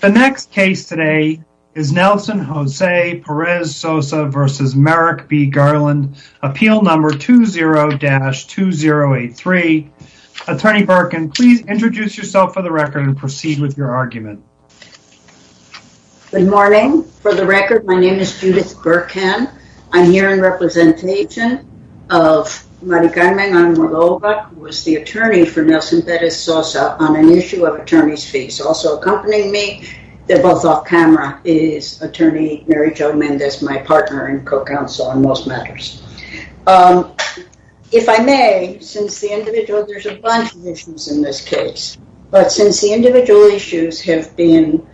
The next case today is Nelson Jose Perez-Sosa v. Merrick B. Garland, Appeal No. 20-2083. Attorney Birkin, please introduce yourself for the record and proceed with your argument. Good morning. For the record, my name is Judith Birkin. I'm here in representation of Maricarmena Moldova, who is the attorney for Nelson Perez-Sosa on an issue of Attorney's Fees. He's also accompanying me, they're both off-camera, is Attorney Mary Jo Mendez, my partner and co-counsel on most matters. If I may, since the individual, there's a bunch of issues in this case, but since the individual issues have been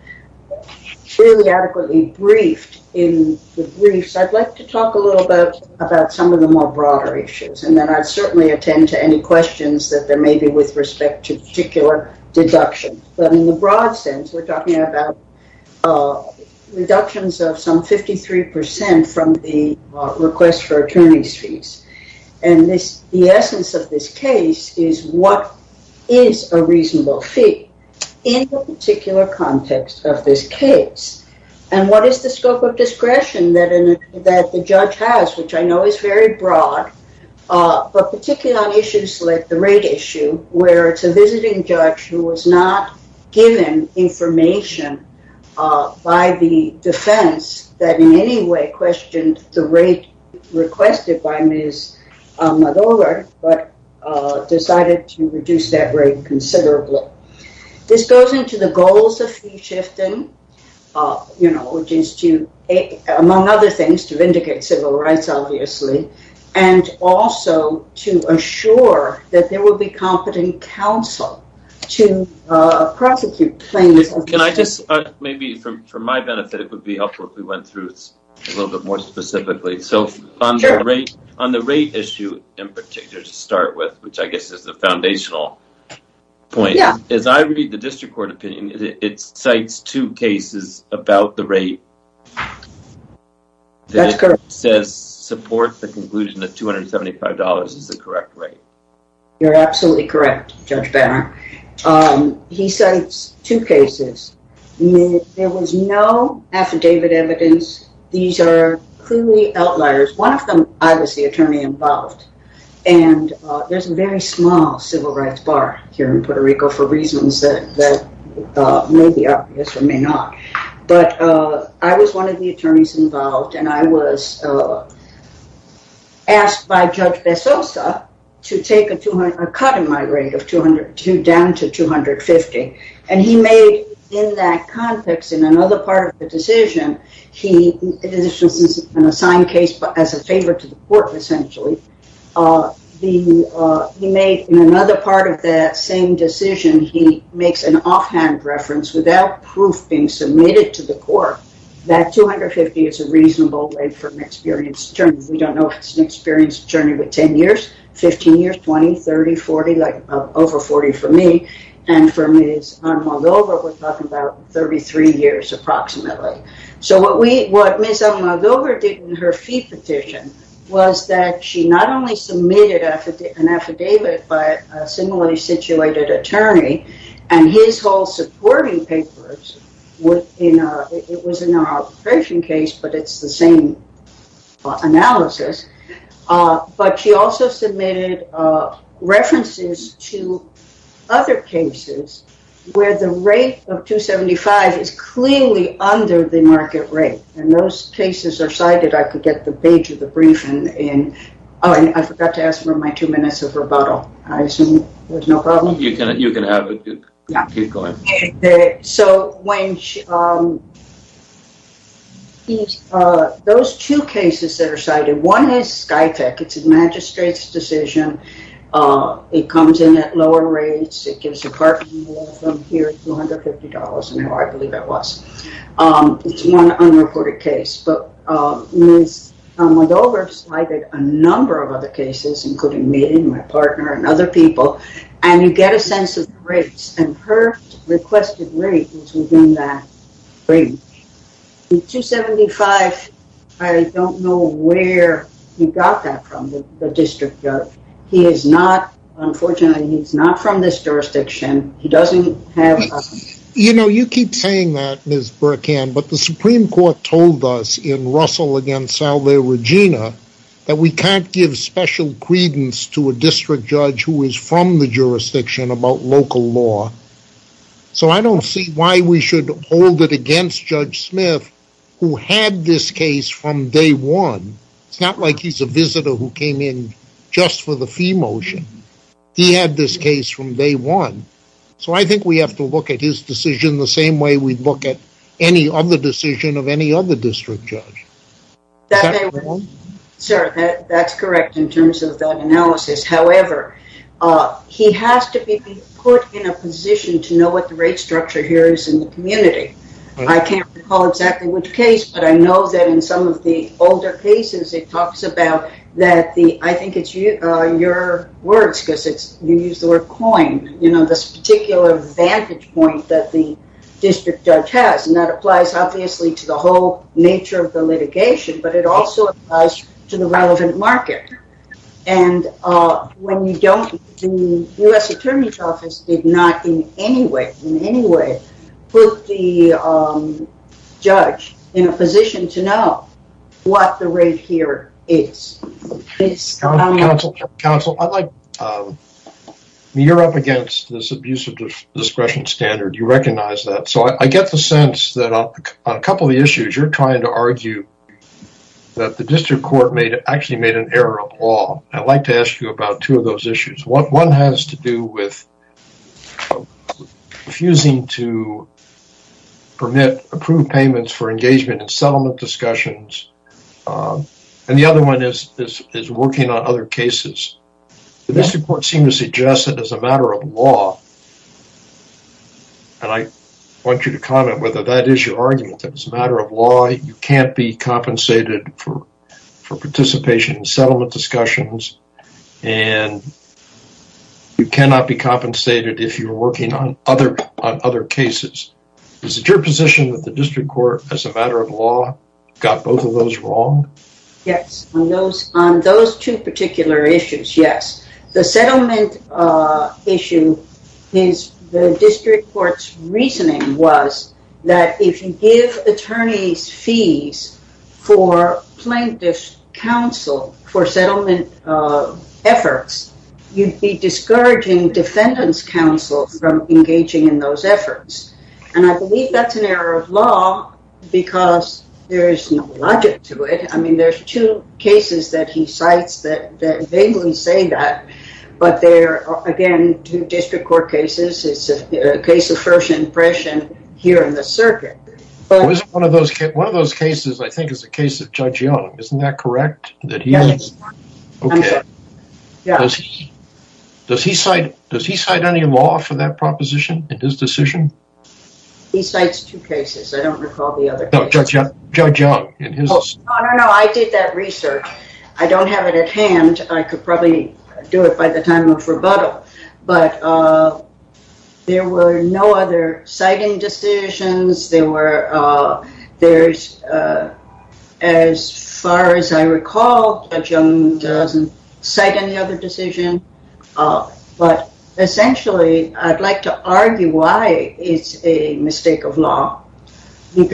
fairly adequately briefed in the briefs, I'd like to talk a little about some of the more broader issues, and then I'd certainly attend to any questions that there may be with respect to particular deductions. But in the broad sense, we're talking about reductions of some 53% from the request for attorney's fees. And the essence of this case is what is a reasonable fee in the particular context of this case, and what is the scope of discretion that the judge has, which I know is very broad, but particularly on issues like the rate issue, where it's a visiting judge who was not given information by the defense that in any way questioned the rate requested by Ms. Moldova, but decided to reduce that rate considerably. This goes into the goals of fee shifting, which is to, among other things, to vindicate civil rights, obviously, and also to assure that there will be competent counsel to prosecute plaintiffs. Can I just, maybe for my benefit, it would be helpful if we went through this a little bit more specifically. Sure. So, on the rate issue in particular to start with, which I guess is the foundational point. Yeah. As I read the district court opinion, it cites two cases about the rate. That's correct. It says support the conclusion that $275 is the correct rate. You're absolutely correct, Judge Barron. He cites two cases. There was no affidavit evidence. These are clearly outliers. One of them, I was the attorney involved, and there's a very small civil rights bar here in Puerto Rico for reasons that may be obvious or may not, but I was one of the attorneys involved, and I was asked by Judge Besosa to take a cut in my rate of down to $250, and he made, in that context, in another part of the decision, this was an assigned case but as a favor to the court, essentially, he made, in another part of that same decision, he makes an offhand reference without proof being submitted to the court that $250 is a reasonable rate for an experienced attorney. We don't know if it's an experienced attorney with 10 years, 15 years, 20, 30, 40, like over 40 for me, and for Ms. Almagrover, we're talking about 33 years approximately. So what Ms. Almagrover did in her fee petition was that she not only submitted an affidavit by a similarly situated attorney, and his whole supporting papers, it was in an arbitration case but it's the same analysis, but she also submitted references to other cases where the rate of $275 is cleanly under the market rate, and those cases are cited, I could get the page of the briefing, and I forgot to ask for my two minutes of rebuttal. I assume there's no problem? You can have it, keep going. So when, those two cases that are cited, one is Sky Tech, it's a magistrate's decision, it comes in at lower rates, it gives a parking wall from here to $150, I believe that was. It's one unreported case, but Ms. Almagrover cited a number of other cases, including me and my partner and other people, and you get a sense of the rates, and her requested rate is within that range. $275, I don't know where he got that from, the district judge. He is not, unfortunately he's not from this jurisdiction, he doesn't have a... You know, you keep saying that, Ms. Burkhand, but the Supreme Court told us in Russell against Salve Regina, that we can't give special credence to a district judge who is from the jurisdiction about local law, so I don't see why we should hold it against Judge Smith, who had this case from day one, it's not like he's a visitor who came in just for the fee motion. He had this case from day one, so I think we have to look at his decision the same way we look at any other decision of any other district judge. Is that right? Sir, that's correct in terms of that analysis, however, he has to be put in a position to know what the rate structure here is in the community. I can't recall exactly which case, but I know that in some of the older cases it talks about that the, I think it's your words, because you use the word coin, you know, this particular vantage point that the district judge has, and that applies obviously to the whole nature of the litigation, but it also applies to the relevant market. And when you don't, the U.S. Attorney's Office did not in any way, in any way, put the judge in a position to know what the rate here is. Counsel, counsel, counsel, I'd like, you're up against this abuse of discretion standard, you recognize that, so I get the sense that on a couple of the issues you're trying to argue that the district court made, actually made an error of law. I'd like to ask you about two of those issues. One has to do with refusing to permit approved payments for engagement in settlement discussions, and the other one is working on other cases. The district court seemed to suggest that as a matter of law, and I want you to comment whether that is your argument, that as a matter of law, you can't be compensated for participation in settlement discussions, and you cannot be compensated if you're working on other cases. Is it your position that the district court, as a matter of law, got both of those wrong? Yes, on those two particular issues, yes. The settlement issue is the district court's reasoning was that if you give attorneys fees for plaintiff's counsel for settlement efforts, you'd be discouraging defendant's counsel from engaging in those efforts, and I believe that's an error of law because there is no logic to it. I mean, there's two cases that he cites that vaguely say that, but they're, again, two district court cases. It's a case of first impression here in the circuit. But one of those cases, I think, is the case of Judge Young. Isn't that correct? Yes, I'm sure. Okay. Does he cite any law for that proposition in his decision? He cites two cases. I don't recall the other case. No, Judge Young in his decision. No, no, no. I did that research. I don't have it at hand. I could probably do it by the time of rebuttal, but there were no other citing decisions. There were, there's, as far as I recall, Judge Young doesn't cite any other decision, but essentially, I'd like to argue why it's a mistake of law. Excuse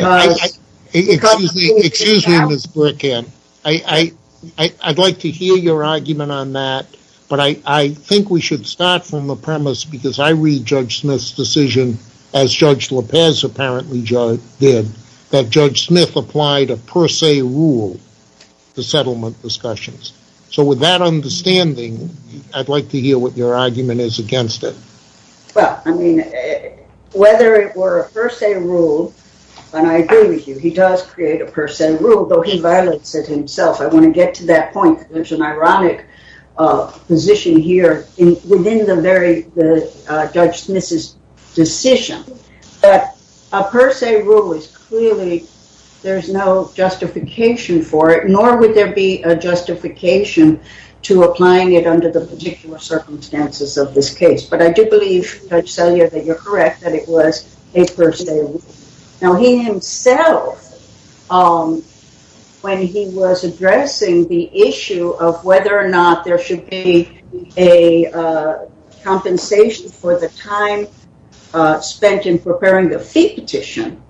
me, Ms. Burkhead. I'd like to hear your argument on that, but I think we should start from the premise because I read Judge Smith's decision, as Judge Lopez apparently did, that Judge Smith applied a per se rule to settlement discussions. So, with that understanding, I'd like to hear what your argument is against it. Well, I mean, whether it were a per se rule, and I agree with you, he does create a per se rule, though he violates it himself. I want to get to that point. There's an ironic position here within the very, Judge Smith's decision that a per se rule is clearly, there's no justification for it, nor would there be a justification to applying it under the particular circumstances of this case. But I do believe, Judge Sellier, that you're correct, that it was a per se rule. Now, he himself, when he was addressing the issue of whether or not there should be a compensation for the time spent in preparing the fee petition,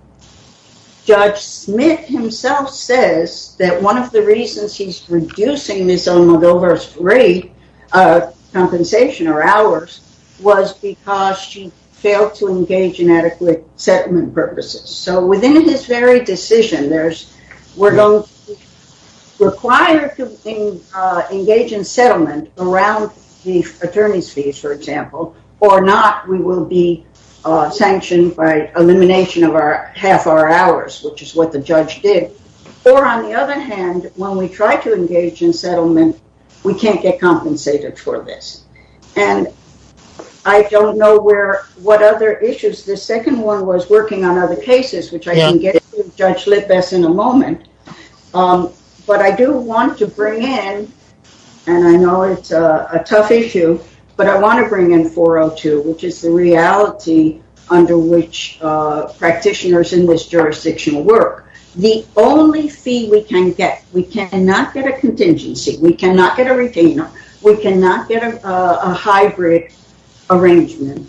Judge Smith himself says that one of the reasons he's reducing Ms. Almudovar's rate of compensation, or ours, was because she failed to engage in adequate settlement purposes. So, within this very decision, we're going to be required to engage in settlement around the attorney's fees, for example, or not, we will be sanctioned by elimination of half our hours, which is what the judge did. Or, on the other hand, when we try to engage in settlement, we can't get compensated for this, and I don't know where, what other issues, the second one was working on other cases, which I can get to, Judge Lippess, in a moment. But I do want to bring in, and I know it's a tough issue, but I want to bring in 402, which is the reality under which practitioners in this jurisdiction work. The only fee we can get, we cannot get a contingency, we cannot get a retainer, we cannot get a hybrid arrangement.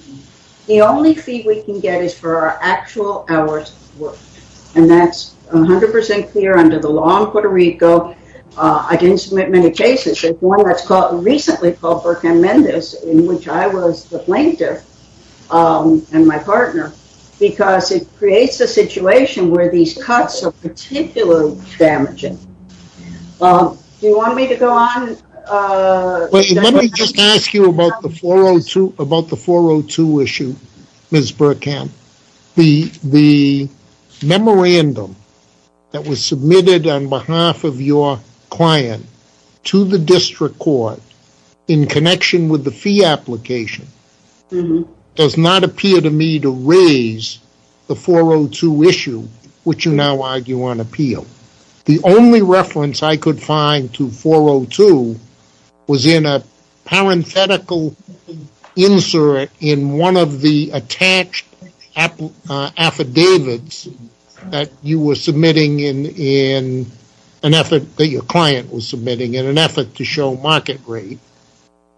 The only fee we can get is for our actual hours of work, and that's 100% clear under the law in Puerto Rico. I didn't submit many cases. There's one that's called, recently called, Burkham-Mendez, in which I was the plaintiff, and my partner, because it creates a situation where these cuts are particularly damaging. Do you want me to go on? Let me just ask you about the 402 issue, Ms. Burkham. The memorandum that was submitted on behalf of your client to the district court, in connection with the fee application, does not appear to me to raise the 402 issue, which you now argue on appeal. The only reference I could find to 402 was in a parenthetical insert in one of the attached affidavits that you were submitting in an effort, that your client was submitting in an effort to show market rate,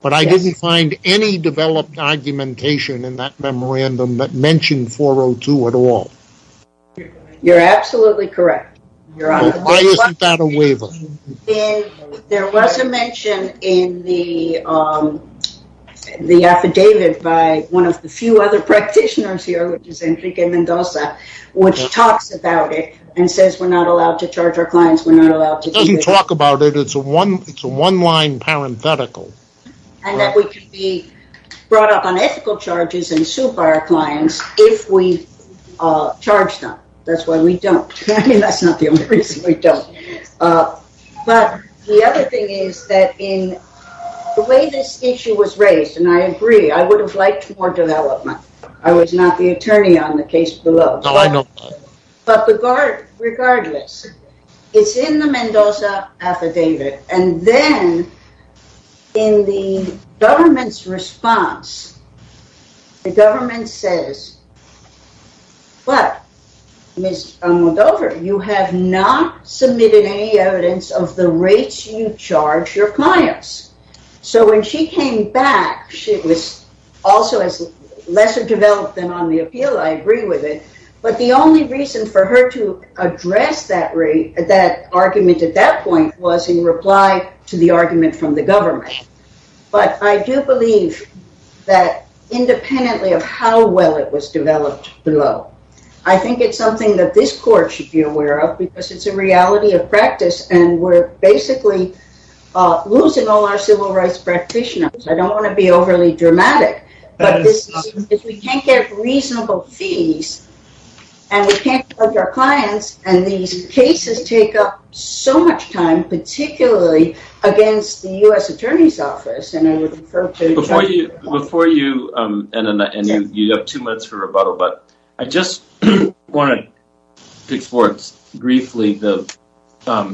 but I didn't find any developed argumentation in that memorandum that mentioned 402 at all. You're absolutely correct. Why isn't that a waiver? There was a mention in the affidavit by one of the few other practitioners here, which is Enrique Mendoza, which talks about it and says, we're not allowed to charge our clients. We're not allowed to- It doesn't talk about it. It's a one-line parenthetical. That we could be brought up on ethical charges and sued by our clients if we charge them. That's why we don't. That's not the only reason we don't. But the other thing is that in the way this issue was raised, and I agree, I would have liked more development. I was not the attorney on the case below. But regardless, it's in the Mendoza affidavit, and then in the government's response, the You have not submitted any evidence of the rates you charge your clients. So when she came back, she was also lesser developed than on the appeal. I agree with it. But the only reason for her to address that argument at that point was in reply to the argument from the government. But I do believe that independently of how well it was developed below, I think it's something that this court should be aware of, because it's a reality of practice. And we're basically losing all our civil rights practitioners. I don't want to be overly dramatic. But this is because we can't get reasonable fees, and we can't charge our clients, and these cases take up so much time, particularly against the U.S. Attorney's Office. And I would refer to- Before you, and you have two minutes for rebuttal, but I just want to explore briefly the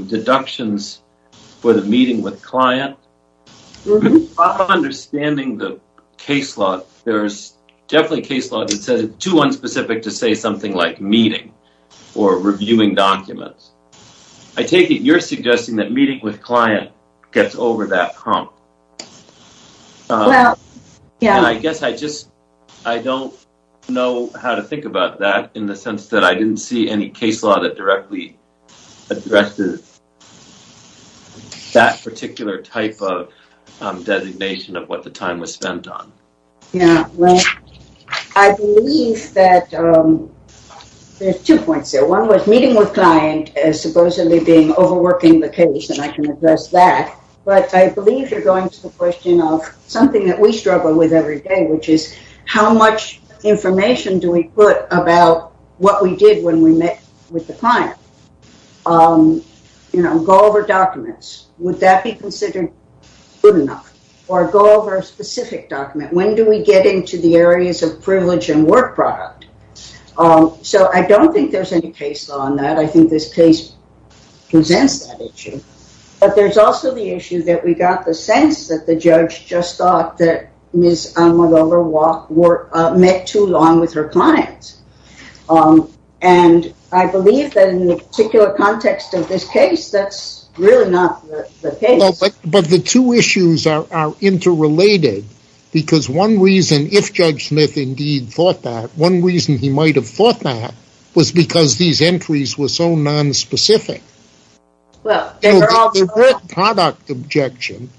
deductions for the meeting with client. Understanding the case law, there's definitely case law that says it's too unspecific to say something like meeting or reviewing documents. I take it you're suggesting that meeting with client gets over that hump. Well, yeah. And I guess I just, I don't know how to think about that in the sense that I didn't see any case law that directly addressed that particular type of designation of what the time was spent on. Yeah, well, I believe that there's two points there. One was meeting with client as supposedly being overworking the case, and I can address that. But I believe you're going to the question of something that we struggle with every day, which is how much information do we put about what we did when we met with the client? Go over documents. Would that be considered good enough? Or go over a specific document. When do we get into the areas of privilege and work product? So, I don't think there's any case law on that. I think this case presents that issue. But there's also the issue that we got the sense that the judge just thought that Ms. Anne McGovern met too long with her client. And I believe that in the particular context of this case, that's really not the case. But the two issues are interrelated, because one reason, if Judge Smith indeed thought that, one reason he might have thought that was because these entries were so nonspecific. Well, the work product objection,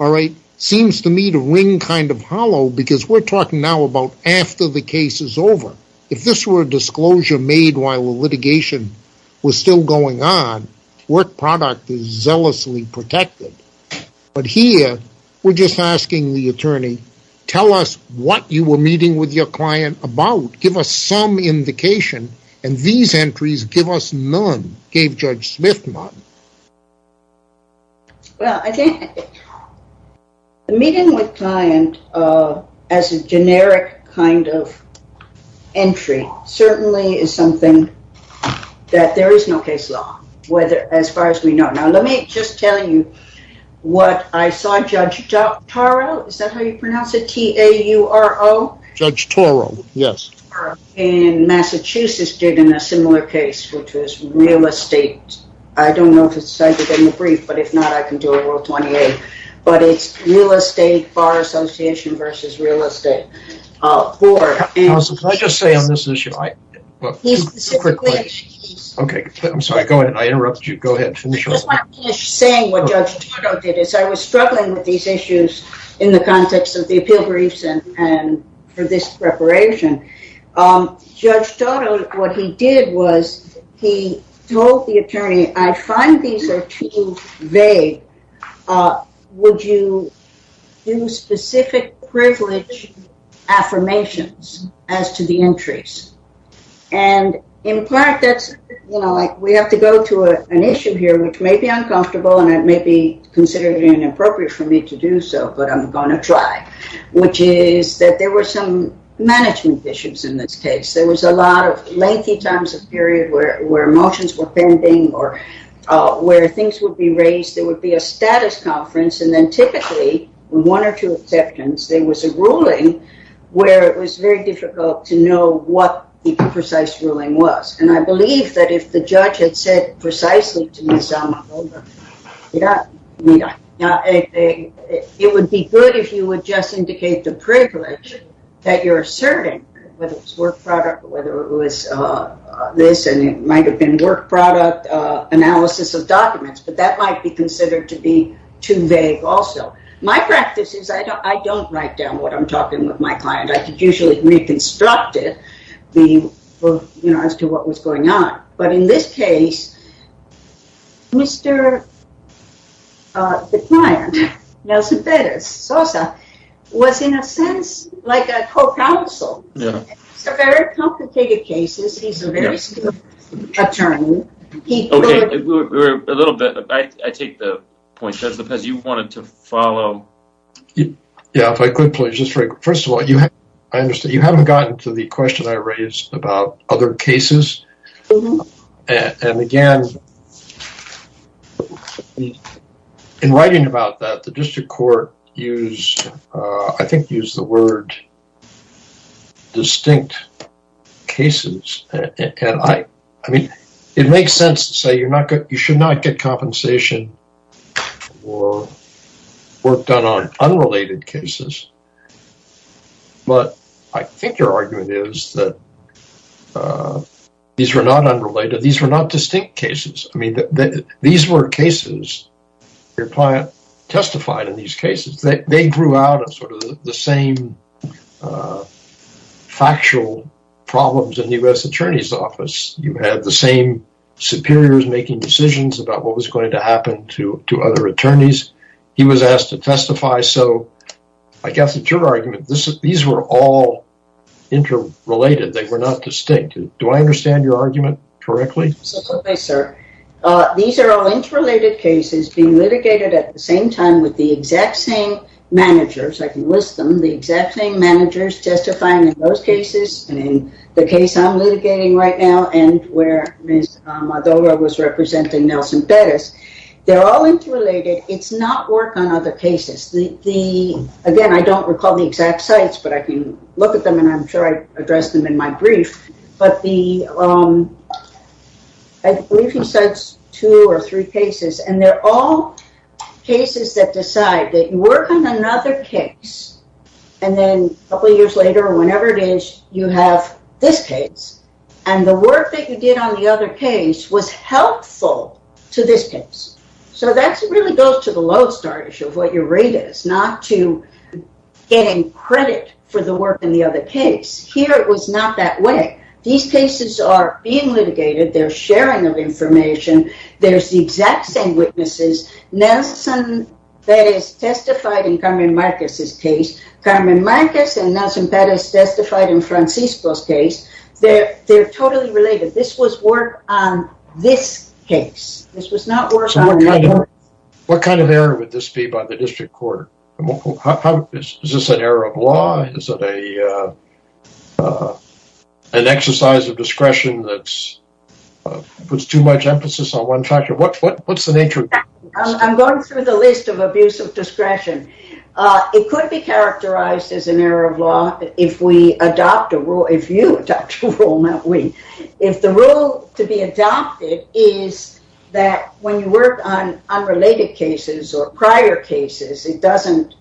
all right, seems to me to ring kind of hollow, because we're talking now about after the case is over. If this were a disclosure made while the litigation was still going on, work product is zealously protected. But here, we're just asking the attorney, tell us what you were meeting with your client about. Give us some indication. And these entries give us none, gave Judge Smith none. Well, I think the meeting with client as a generic kind of entry certainly is something that there is no case law, as far as we know. Now, let me just tell you what I saw Judge Toro, is that how you pronounce it? T-A-U-R-O? Judge Toro, yes. And Massachusetts did in a similar case, which was real estate. I don't know if it's cited in the brief, but if not, I can do a rule 28. But it's real estate, bar association versus real estate. Counsel, can I just say on this issue? Okay. I'm sorry. Go ahead. I interrupt you. Go ahead. Saying what Judge Toro did is I was struggling with these issues in the context of the appeal and for this preparation. Judge Toro, what he did was he told the attorney, I find these are too vague. Would you do specific privilege affirmations as to the entries? And in part, that's, you know, like we have to go to an issue here, which may be uncomfortable, and it may be considered inappropriate for me to do so, but I'm going to try. Which is that there were some management issues in this case. There was a lot of lengthy times of period where motions were pending or where things would be raised. There would be a status conference. And then typically, one or two exceptions, there was a ruling where it was very difficult to know what the precise ruling was. And I believe that if the judge had said precisely to me, it would be good if you would just indicate the privilege that you're asserting, whether it's work product or whether it was this, and it might have been work product analysis of documents, but that might be considered to be too vague also. My practice is I don't write down what I'm talking with my client. I could usually reconstruct it as to what was going on. But in this case, Mr., the client, Nelson Perez-Sosa, was in a sense like a co-counsel. It's a very complicated case. He's a very skilled attorney. Okay, we're a little bit, I take the point, because you wanted to follow. Yeah, if I could, please, just very quickly. First of all, I understand you haven't gotten to the question I raised about other cases. And again, in writing about that, the district court used, I think, used the word distinct cases. I mean, it makes sense to say you should not get compensation or work done on unrelated cases. But I think your argument is that these were not unrelated. These were not distinct cases. I mean, these were cases your client testified in these cases. They grew out of sort of the same factual problems in the U.S. Attorney's Office. You had the same superiors making decisions about what was going to happen to other attorneys. He was asked to testify. So I guess it's your argument. These were all interrelated. They were not distinct. Do I understand your argument correctly? Certainly, sir. These are all interrelated cases being litigated at the same time with the exact same managers. I can list them. The exact same managers testifying in those cases and in the case I'm litigating right now and where Ms. Maduro was representing Nelson Perez. They're all interrelated. It's not work on other cases. Again, I don't recall the exact sites, but I can look at them, and I'm sure I addressed them in my brief. But I believe he cites two or three cases, and they're all cases that decide that you work on another case, and then a couple years later or whenever it is, you have this case. And the work that you did on the other case was helpful to this case. So that really goes to the low start issue of what your rate is, not to get in credit for the work in the other case. Here, it was not that way. These cases are being litigated. They're sharing of information. There's the exact same witnesses. Nelson Perez testified in Carmen Marquez's case. Carmen Marquez and Nelson Perez testified in Francisco's case. They're totally related. This was work on this case. This was not work on another case. What kind of error would this be by the district court? Is this an error of law? Is it an exercise of discretion that puts too much emphasis on one factor? What's the nature of this? I'm going through the list of abuse of discretion. It could be characterized as an error of law if we adopt a rule—if you adopt a rule, not we. If the rule to be adopted is that when you work on unrelated cases or prior cases, it doesn't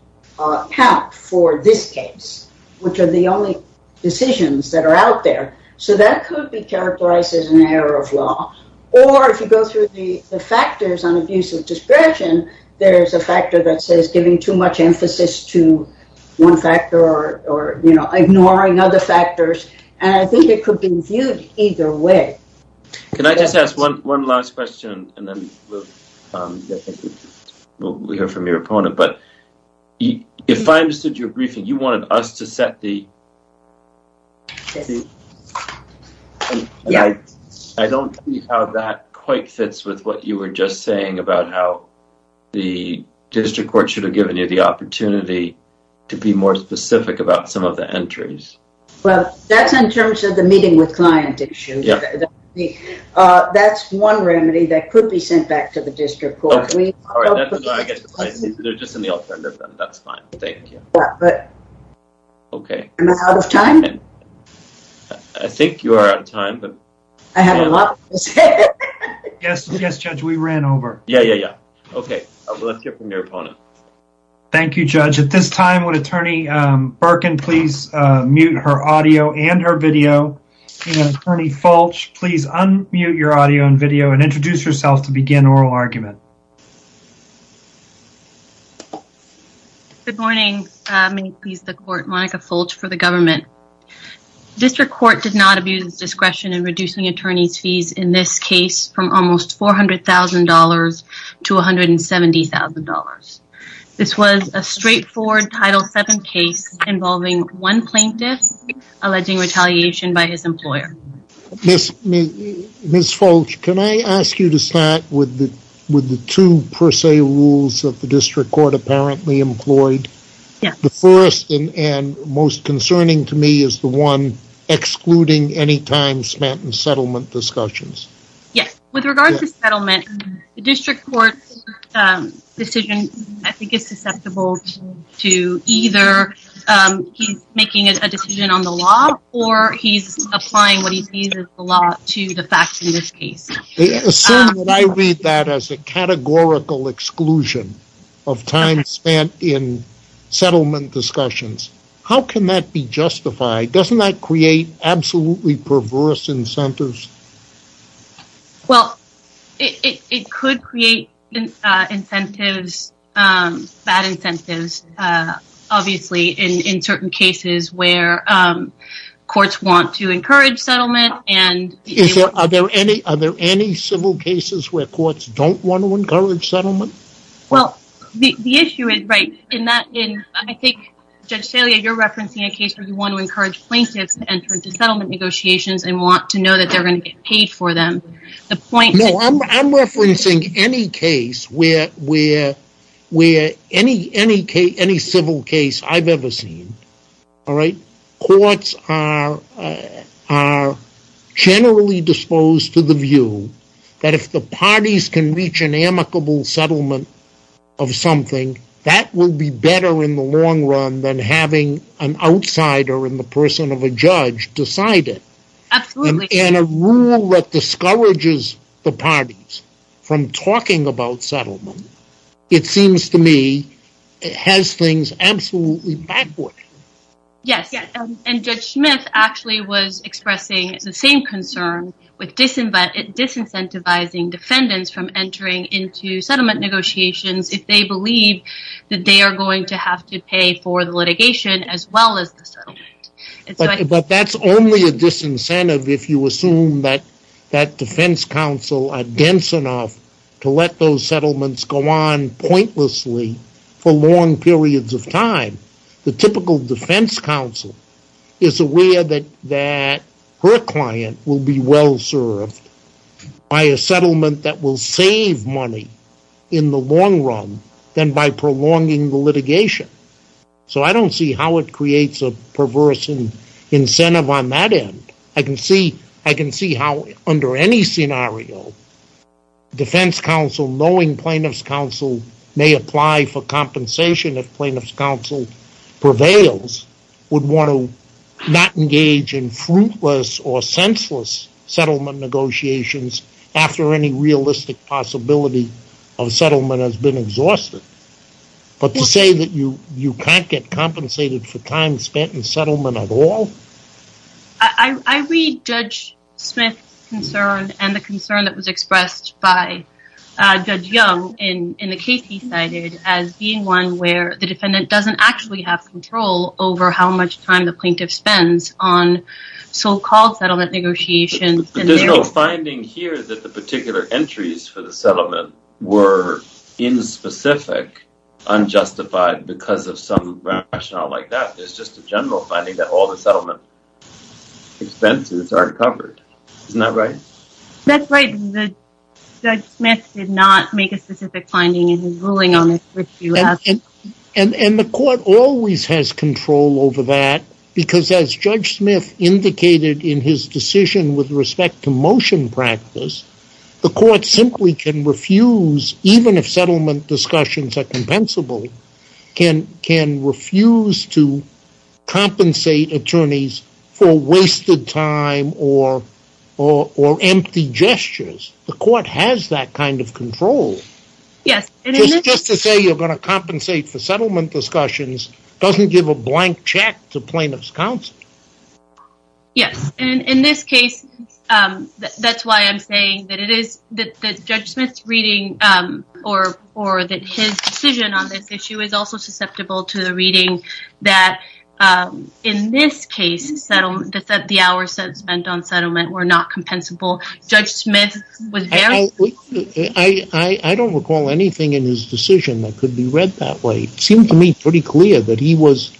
count for this case, which are the only decisions that are out there. So that could be characterized as an error of law. Or if you go through the factors on abuse of discretion, there's a factor that says giving too much emphasis to one factor or ignoring other factors. And I think it could be viewed either way. Can I just ask one last question and then we'll hear from your opponent? But if I understood your briefing, you wanted us to set the—I don't see how that quite fits with what you were just saying about how the district court should have given you the opportunity to be more specific about some of the entries. Well, that's in terms of the meeting with client issue. That's one remedy that could be sent back to the district court. Okay. All right. They're just in the alternative, then. That's fine. Thank you. Okay. Am I out of time? I think you are out of time. I have a lot to say. Yes, yes, Judge. We ran over. Yeah, yeah, yeah. Okay. Let's hear from your opponent. Thank you, Judge. At this time, would Attorney Birkin please mute her audio and her video? And Attorney Fulch, please unmute your audio and video and introduce yourself to begin oral argument. Good morning. Many pleas the court. Monica Fulch for the government. District court did not abuse its discretion in reducing attorney's fees in this case from almost $400,000 to $170,000. This was a straightforward Title VII case involving one plaintiff alleging retaliation by his employer. Ms. Fulch, can I ask you to start with the two per se rules that the district court apparently employed? The first and most concerning to me is the one excluding any time spent in settlement discussions. Yes. With regard to settlement, the district court's decision, I think, is susceptible to either he's making a decision on the law or he's applying what he sees as the law to the facts in this case. Assume that I read that as a categorical exclusion of time spent in settlement discussions. How can that be justified? Doesn't that create absolutely perverse incentives? Well, it could create incentives, bad incentives, obviously, in certain cases where courts want to encourage settlement and... Are there any civil cases where courts don't want to encourage settlement? Well, the issue is, right, in that, I think, Judge Salia, you're referencing a case where you want to encourage plaintiffs to enter into settlement negotiations and want to know that they're going to get paid for them. I'm referencing any case where any civil case I've ever seen, all right, courts are generally disposed to the view that if the parties can reach an amicable settlement of something, that will be better in the long run than having an outsider in the person of a judge decide it. And a rule that discourages the parties from talking about settlement, it seems to me, has things absolutely backward. Yes, and Judge Smith actually was expressing the same concern with disincentivizing defendants from entering into settlement negotiations if they believe that they are going to have to pay for the litigation as well as the settlement. But that's only a disincentive if you assume that defense counsel are dense enough to let those settlements go on pointlessly for long periods of time. The typical defense counsel is aware that her client will be well served by a settlement that will save money in the long run than by prolonging the litigation. So I don't see how it creates a perverse incentive on that end. I can see how under any scenario, defense counsel knowing plaintiff's counsel may apply for compensation if plaintiff's counsel prevails, would want to not engage in fruitless or senseless settlement negotiations after any realistic possibility of settlement has been exhausted. But to say that you can't get compensated for time spent in settlement at all? I read Judge Smith's concern and the concern that was expressed by Judge Young in the case he cited as being one where the defendant doesn't actually have control over how much time the plaintiff spends on so-called settlement negotiations. There's no finding here that the particular entries for the settlement were in specific unjustified because of some rationale like that. There's just a general finding that all the settlement expenses are covered. Isn't that right? That's right. Judge Smith did not make a specific finding in his ruling on this. And the court always has control over that because as Judge Smith indicated in his decision with respect to motion practice, the court simply can refuse, even if settlement discussions are compensable, can refuse to compensate attorneys for wasted time or empty gestures. The court has that kind of control. Yes. Just to say you're going to compensate for settlement discussions doesn't give a blank check to plaintiff's counsel. Yes. And in this case, that's why I'm saying that Judge Smith's reading or that his decision on this issue is also susceptible to the reading that in this case, the hours spent on settlement were not compensable. Judge Smith was very... I don't recall anything in his decision that could be read that way. It seemed to me pretty clear that he was,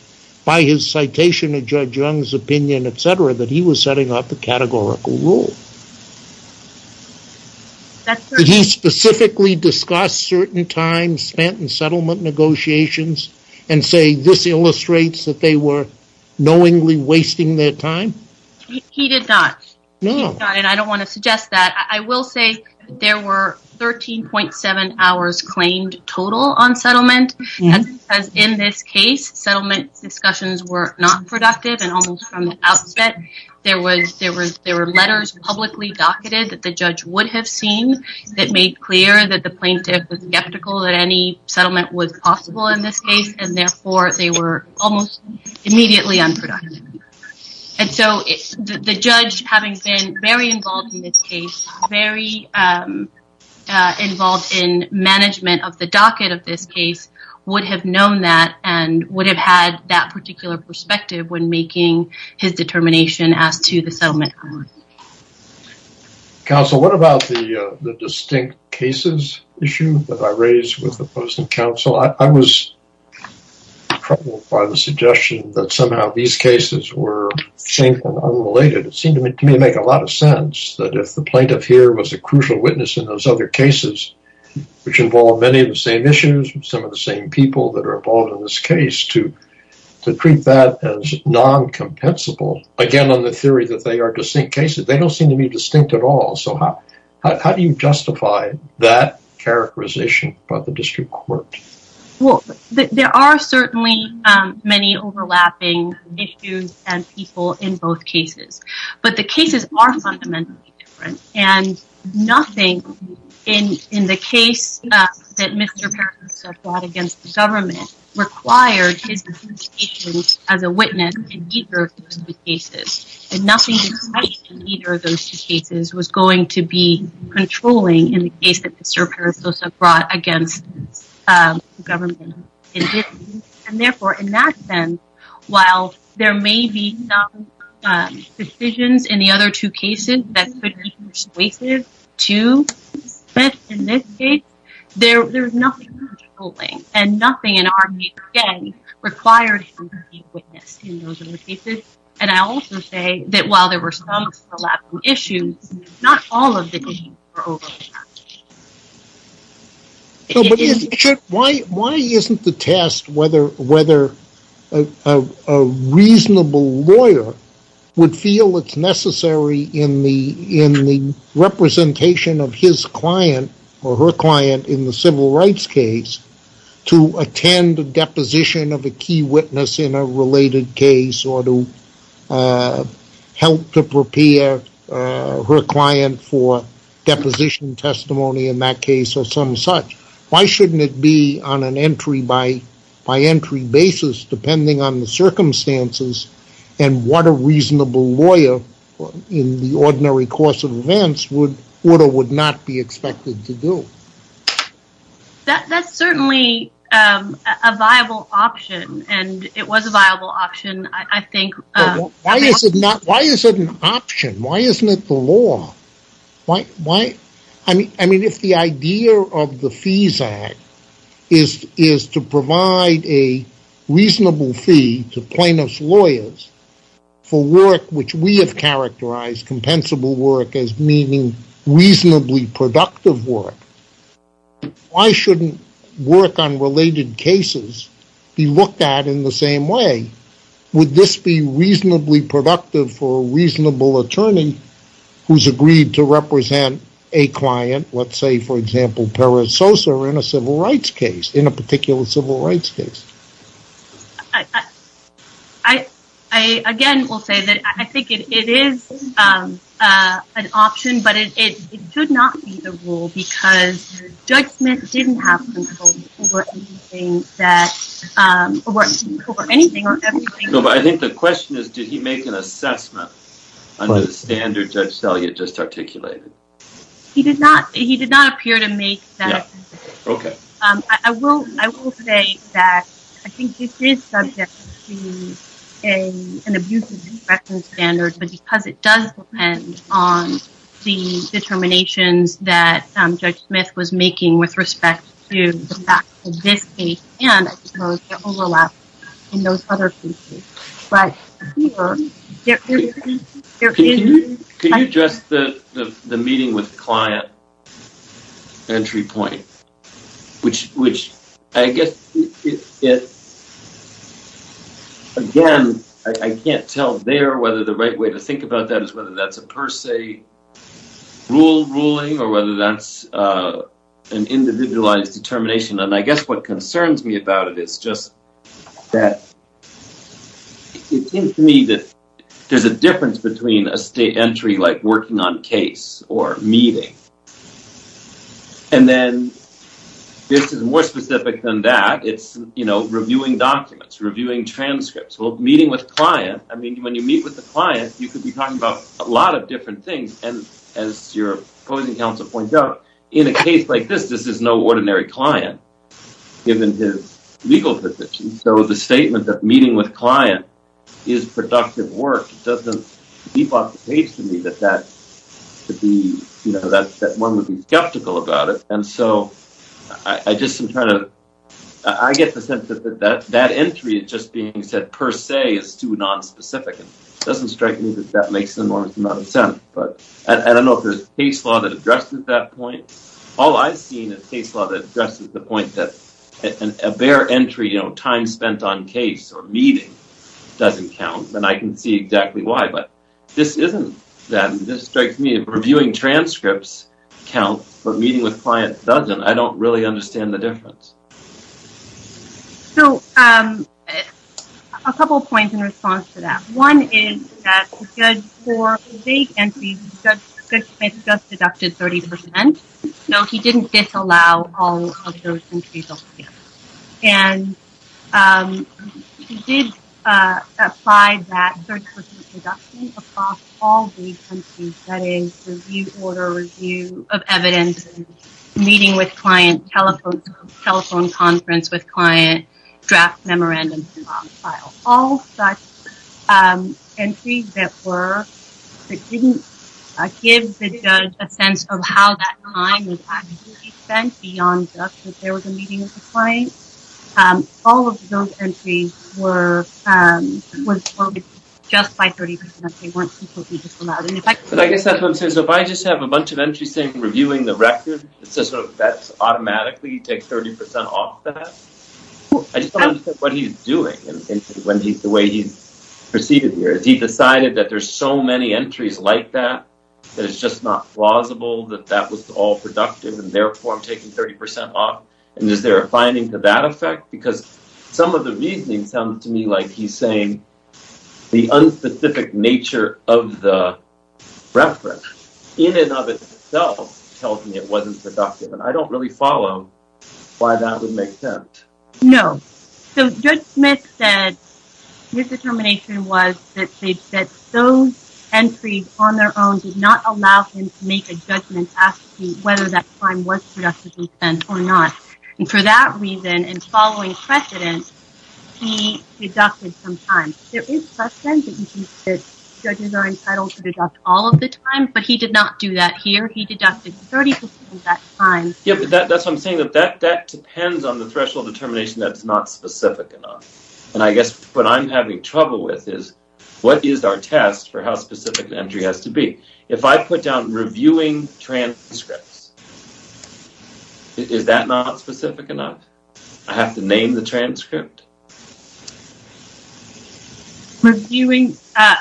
by his citation of Judge Young's opinion, et cetera, that he was setting up a categorical rule. Did he specifically discuss certain times spent in settlement negotiations and say, this illustrates that they were knowingly wasting their time? He did not. And I don't want to suggest that. I will say there were 13.7 hours claimed total on settlement because in this case, settlement discussions were not productive and almost from the outset, there were letters publicly docketed that the judge would have seen that made clear that the plaintiff was skeptical that any settlement was possible in this case, and therefore, they were almost immediately unproductive. And so the judge, having been very involved in this case, very involved in management of the docket of this case, would have known that and would have had that particular perspective when making his determination as to the settlement. Counsel, what about the distinct cases issue that I raised with the opposing counsel? I was troubled by the suggestion that somehow these cases were same unrelated. It seemed to me to make a lot of sense that if the plaintiff here was a crucial witness in those other cases, which involved many of the same issues, some of the same people that are involved in this case, to treat that as non-compensable, again, on the theory that they are distinct cases, they don't seem to be distinct at all. So how do you justify that characterization by the district court? Well, there are certainly many overlapping issues and people in both cases. But the cases are fundamentally different. And nothing in the case that Mr. Parasosa brought against the government required his specifications as a witness in either of those two cases. And nothing in either of those two cases was going to be controlling in the case that Mr. Parasosa brought against the government in this case. And therefore, in that sense, while there may be some decisions in the other two cases that could be persuasive to the suspect in this case, there's nothing controlling and nothing in our case, again, required him to be a witness in those other cases. And I also say that while there were some overlapping issues, not all of the cases were overlapping. But why isn't the test whether a reasonable lawyer would feel it's necessary in the representation of his client or her client in the civil rights case to attend a deposition of a key witness in a related case or to help to prepare her client for deposition testimony in that case or some such? Why shouldn't it be on an entry by entry basis depending on the circumstances and what a reasonable lawyer in the ordinary course of events would or would not be expected to do? That's certainly a viable option, and it was a viable option, I think. But why is it not? Why is it an option? Why isn't it the law? Why? I mean, if the idea of the Fees Act is to provide a reasonable fee to plaintiff's lawyers for work, which we have characterized compensable work as meaning reasonably productive work, why shouldn't work on related cases be looked at in the same way? Would this be reasonably productive for a reasonable attorney who's agreed to represent a client, let's say, for example, Perez Sosa in a civil rights case, in a particular civil rights case? I again will say that I think it is an option, but it could not be the rule because Judge Smith didn't have control over anything or everything. No, but I think the question is, did he make an assessment under the standard Judge Selya just articulated? He did not. He did not appear to make that assessment. Okay. I will say that I think it is subject to an abuse of discretion standard, but because it does depend on the determinations that Judge Smith was making with respect to the fact that this case and, I suppose, the overlap in those other cases, but... Can you address the meeting with client entry point, which I guess, again, I can't tell there whether the right way to think about that is whether that's a per se rule ruling or whether that's an individualized determination, and I guess what concerns me about it is just that it seems to me that there's a difference between a state entry like working on case or meeting, and then this is more specific than that. It's reviewing documents, reviewing transcripts. Meeting with client. I mean, when you meet with the client, you could be talking about a lot of different things, and as your opposing counsel points out, in a case like this, this is no ordinary client given his legal position, so the statement that meeting with client is productive work doesn't leap off the page to me that one would be skeptical about it, and so I just am trying to... I get the sense that that entry is just being said per se is too nonspecific, and it doesn't strike me that that makes enormous amount of sense, but I don't know if there's case law that addresses that point. All I've seen is case law that addresses the point that a bare entry, you know, time spent on case or meeting doesn't count, and I can see exactly why, but this isn't that, and this strikes me. Reviewing transcripts counts, but meeting with client doesn't. I don't really understand the difference. So, a couple points in response to that. One is that the judge for vague entries, the judge just deducted 30%, so he didn't disallow all of those entries altogether, and he did apply that 30% deduction across all vague of evidence, meeting with client, telephone conference with client, draft memorandum. All such entries that didn't give the judge a sense of how that time was actually spent beyond the fact that there was a meeting with the client, all of those entries were just by 30% they weren't completely disallowed. But I guess that's what I'm saying. So, if I just have a bunch of entries saying reviewing the record, that's automatically take 30% off that? I just don't understand what he's doing, the way he's proceeded here. He decided that there's so many entries like that, that it's just not plausible that that was all productive, and therefore taking 30% off, and is there a finding to that effect? Because some of the reasoning sounds to me like he's saying the unspecific nature of the reference, in and of itself, tells me it wasn't productive, and I don't really follow why that would make sense. No. So Judge Smith said his determination was that those entries on their own did not allow him to make a judgment as to whether that time was productively spent or not, and for that reason, and following precedent, he deducted some time. There is precedent that judges are entitled to deduct all of the time, but he did not do that here. He deducted 30% of that time. Yeah, but that's what I'm saying, that that depends on the threshold of determination that's not specific enough. And I guess what I'm having trouble with is, what is our test for how specific an entry has to be? If I put down reviewing transcripts, is that not specific enough? I have to name the transcript? Reviewing, uh,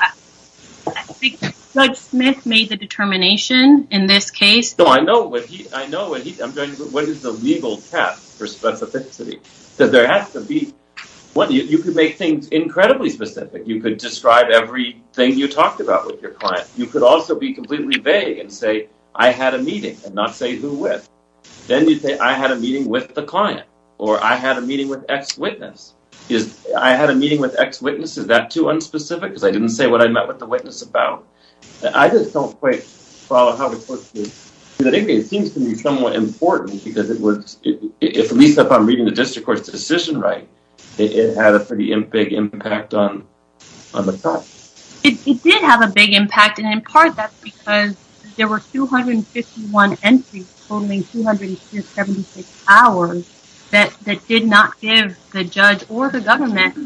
I think Judge Smith made the determination in this case. No, I know what he, I know what he, I'm trying to, what is the legal test for specificity? That there has to be, one, you could make things incredibly specific. You could describe everything you talked about with your client. You could also be completely vague and say, I had a meeting, and not say who with. Then you say, I had a meeting with the client, or I had a meeting with ex-witness. Is, I had a meeting with ex-witness, is that too unspecific? Because I didn't say what I met with the witness about. I just don't quite follow how to put this. But anyway, it seems to me somewhat important because it was, if at least if I'm reading the district court's decision right, it had a pretty big impact on, on the trial. It did have a big impact, and in part that's because there were 251 entries totaling 276 hours that, that did not give the judge or the government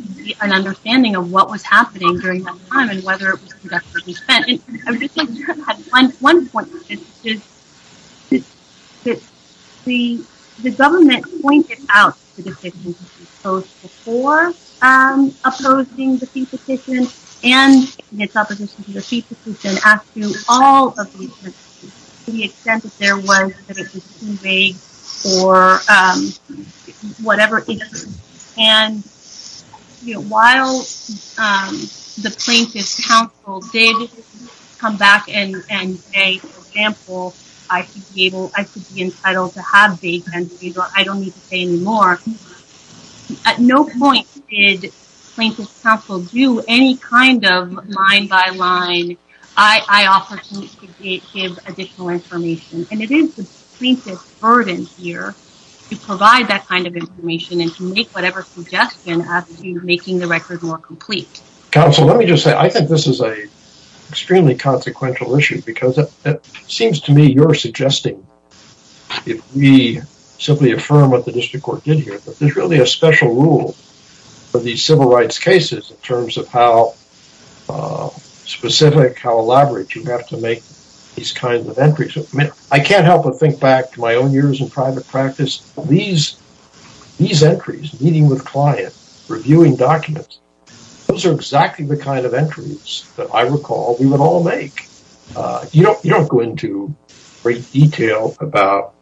an understanding of what was happening during that time and whether it was conduct of defense. And I'm just going to add one, one point to this, is that the, the government pointed out the decisions that were proposed before opposing the fee petition, and its opposition to the fee petition, as to all of the, to the extent that there was, that it was too vague or whatever. And, you know, while the plaintiff's counsel did come back and say, for example, I should be able, I should be entitled to have vague and I don't need to say any more. At no point did plaintiff's counsel do any kind of line by line, I offer to give additional information. And it is the plaintiff's burden here to provide that kind of information and to make whatever suggestion as to making the record more complete. Counsel, let me just say, I think this is a extremely consequential issue because it seems to me you're suggesting, if we simply affirm what the district court did here, that there's really a special rule for these civil rights cases in terms of how specific, how elaborate you have to make these kinds of entries. I mean, I can't help but think back to my own years in private practice. These, these entries, meeting with client, reviewing documents, those are exactly the kind of entries that I recall we would all make. You don't, you don't go into great detail about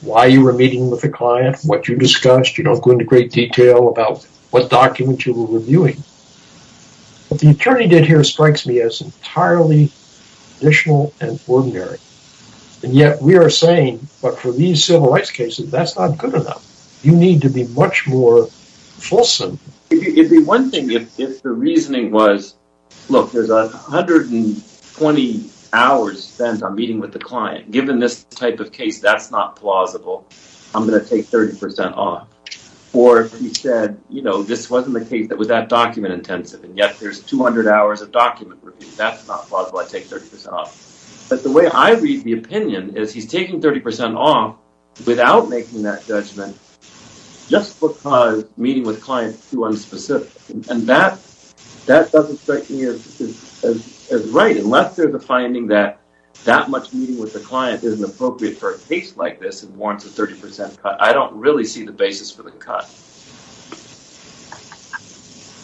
why you were meeting with the client, what you discussed. You don't go into great detail about what documents you were reviewing. What the attorney did here strikes me as entirely additional and ordinary. And yet we are saying, but for these civil rights cases, that's not good enough. You need to be much more fulsome. It'd be one thing if the reasoning was, look, there's 120 hours spent on meeting with the client. Given this type of case, that's not plausible. I'm going to take 30% off. Or he said, you know, this wasn't the case that was that document intensive. And yet there's 200 hours of document review. That's not plausible. I take 30% off. But the way I read the opinion is he's taking 30% off without making that judgment just because meeting with clients too unspecific. And that, that doesn't strike me as right. Unless there's a finding that that much meeting with the client isn't appropriate for a case like this and warrants a 30% cut. I don't really see the basis for the cut.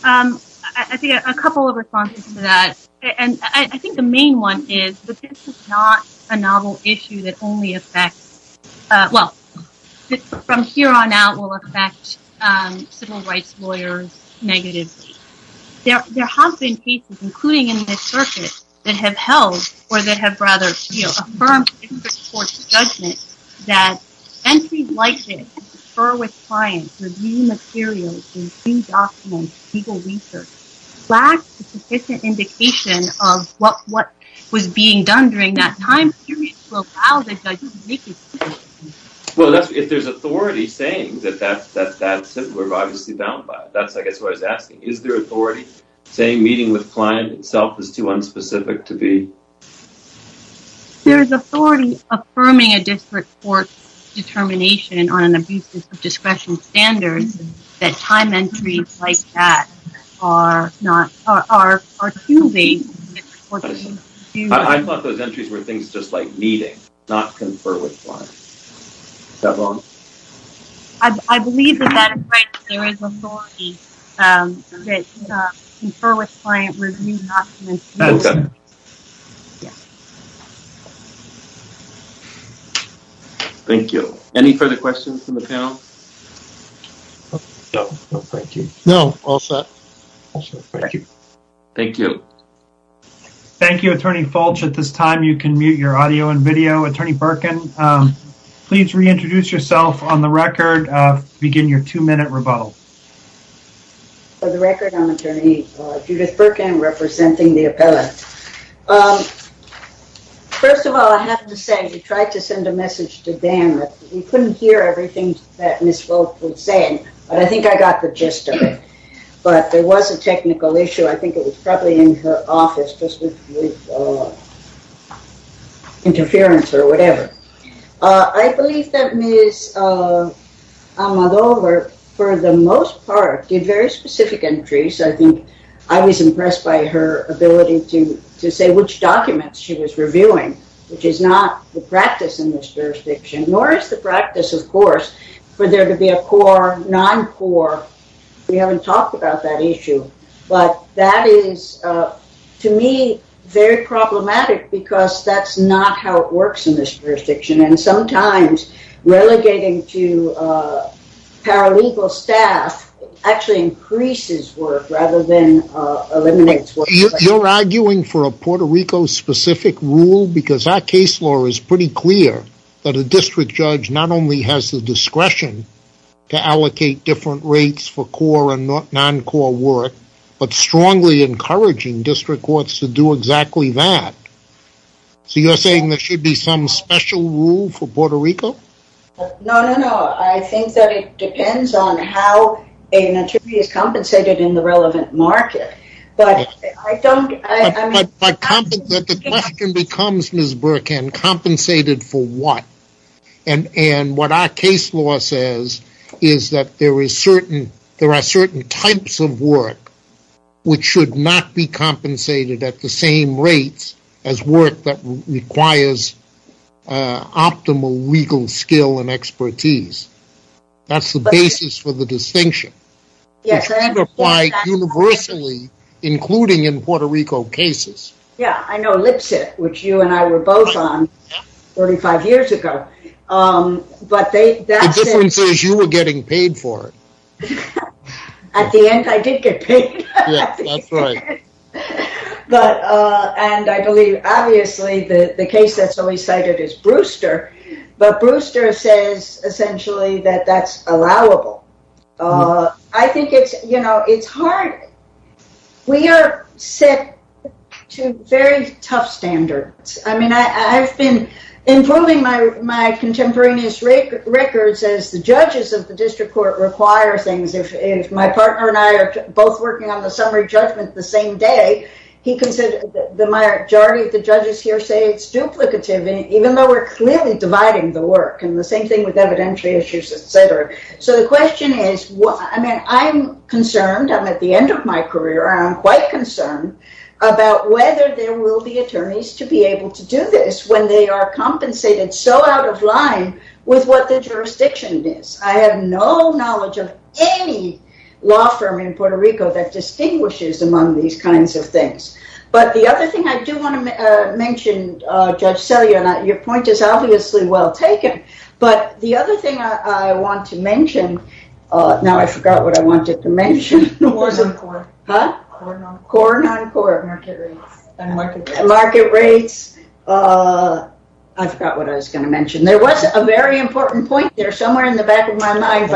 Um, I think a couple of responses to that, and I think the main one is that this is not a novel issue that only affects, uh, well, from here on out will affect, um, civil rights lawyers negatively. There have been cases, including in this circuit that have held, or that have rather, you know, confirmed interest towards judgment, that entries like this that confer with clients review materials and pre-documented legal research lack the sufficient indication of what, what was being done during that time period to allow the judge to make a decision. Well, that's, if there's authority saying that that, that, that, we're obviously bound by it. That's, I guess, what I was asking. Is there authority saying meeting with client itself is too unspecific to be? There is authority affirming a district court determination on an abuses of discretion standards that time entries like that are not, are, are too late. I thought those entries were things just like meeting, not confer with client. Is that wrong? I, I believe that that is right. There is authority, um, that, uh, confer with client review documents. Okay. Thank you. Any further questions from the panel? No, no, thank you. No, all set. Thank you. Thank you, Attorney Fulch. At this time, you can mute your audio and video. Attorney Birkin, um, please reintroduce yourself on the record, uh, begin your two-minute rebuttal. For the record, I'm Attorney Judith Birkin representing the appellate. Um, first of all, I have to say, we tried to send a message to Dan, but we couldn't hear everything that Ms. Fulch was saying, but I think I got the gist of it, but there was a technical issue. I think it was probably in her office just with, uh, interference or whatever. Uh, I believe that Ms., uh, Almodovar, for the most part, did very specific entries. I think I was impressed by her ability to, to say which documents she was reviewing, which is not the practice in this jurisdiction, nor is the practice, of course, for there to be a core, non-core, we haven't talked about that issue, but that is, uh, to me, very problematic because that's not how it works in this jurisdiction, and sometimes relegating to, uh, paralegal staff actually increases work rather than, uh, eliminates work. You're arguing for a Puerto Rico-specific rule because our case law is pretty clear that a district judge not only has the discretion to allocate different rates for core and non-core work but strongly encouraging district courts to do exactly that. So you're saying there should be some special rule for Puerto Rico? No, no, no, I think that it depends on how a nativity is compensated in the relevant market, but I don't, I, I mean— But, but, but the question becomes, Ms. Burkin, compensated for what? And, and what our case law says is that there is certain, there are certain types of work which should not be compensated at the same rates as work that requires optimal legal skill and expertise. That's the basis for the distinction. Yes, and— Which could apply universally, including in Puerto Rico cases. Yeah, I know Lipset, which you and I were both on 45 years ago, but they— The difference is you were getting paid for it. At the end, I did get paid. But, and I believe, obviously, the case that's always cited is Brewster, but Brewster says essentially that that's allowable. I think it's, you know, it's hard. We are set to very tough standards. I mean, I, I've been improving my, my contemporaneous records as the judges of the district court require things. If, if my partner and I are both working on the summary judgment the same day, he considered the majority of the judges here say it's duplicative, even though we're clearly dividing the work, and the same thing with evidentiary issues, etc. So, the question is, what, I mean, I'm concerned, I'm at the end of my career, I'm quite concerned about whether there will be attorneys to be able to do this when they are compensated so out of line with what the jurisdiction is. I have no knowledge of any law firm in Puerto Rico that distinguishes among these kinds of things. But the other thing I do want to mention, Judge Selya, and your point is obviously well taken, but the other thing I want to mention, now, I forgot what I wanted to mention. Market rates. I forgot what I was going to mention. There was a very important point there somewhere in the back of my mind.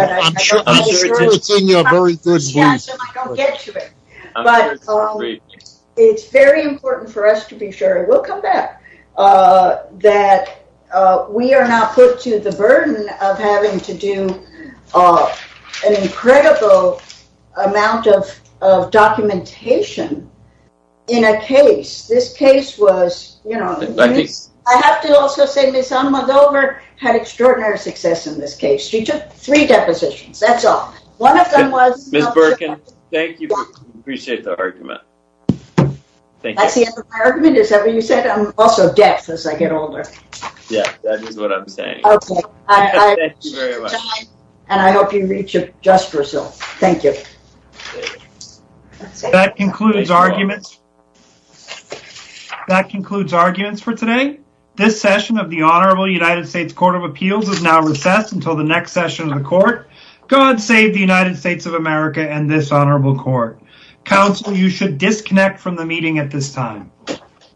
It's very important for us to be sure, we'll come back, that we are not put to the burden of having to do an incredible amount of documentation in a case. This case was, you know, I have to also say Ms. Alma Dover had extraordinary success in this case. She took three depositions, that's all. One of them was... Ms. Birkin, thank you, appreciate the argument. That's the end of my argument, is that what you said? I'm also deaf as I get older. Yeah, that is what I'm saying. And I hope you reach a just result. Thank you. That concludes arguments for today. This session of the Honorable United States Court of Appeals is now recessed until the next session of the court. God save the United States of America and this honorable court. Counsel, you should disconnect from the meeting at this time.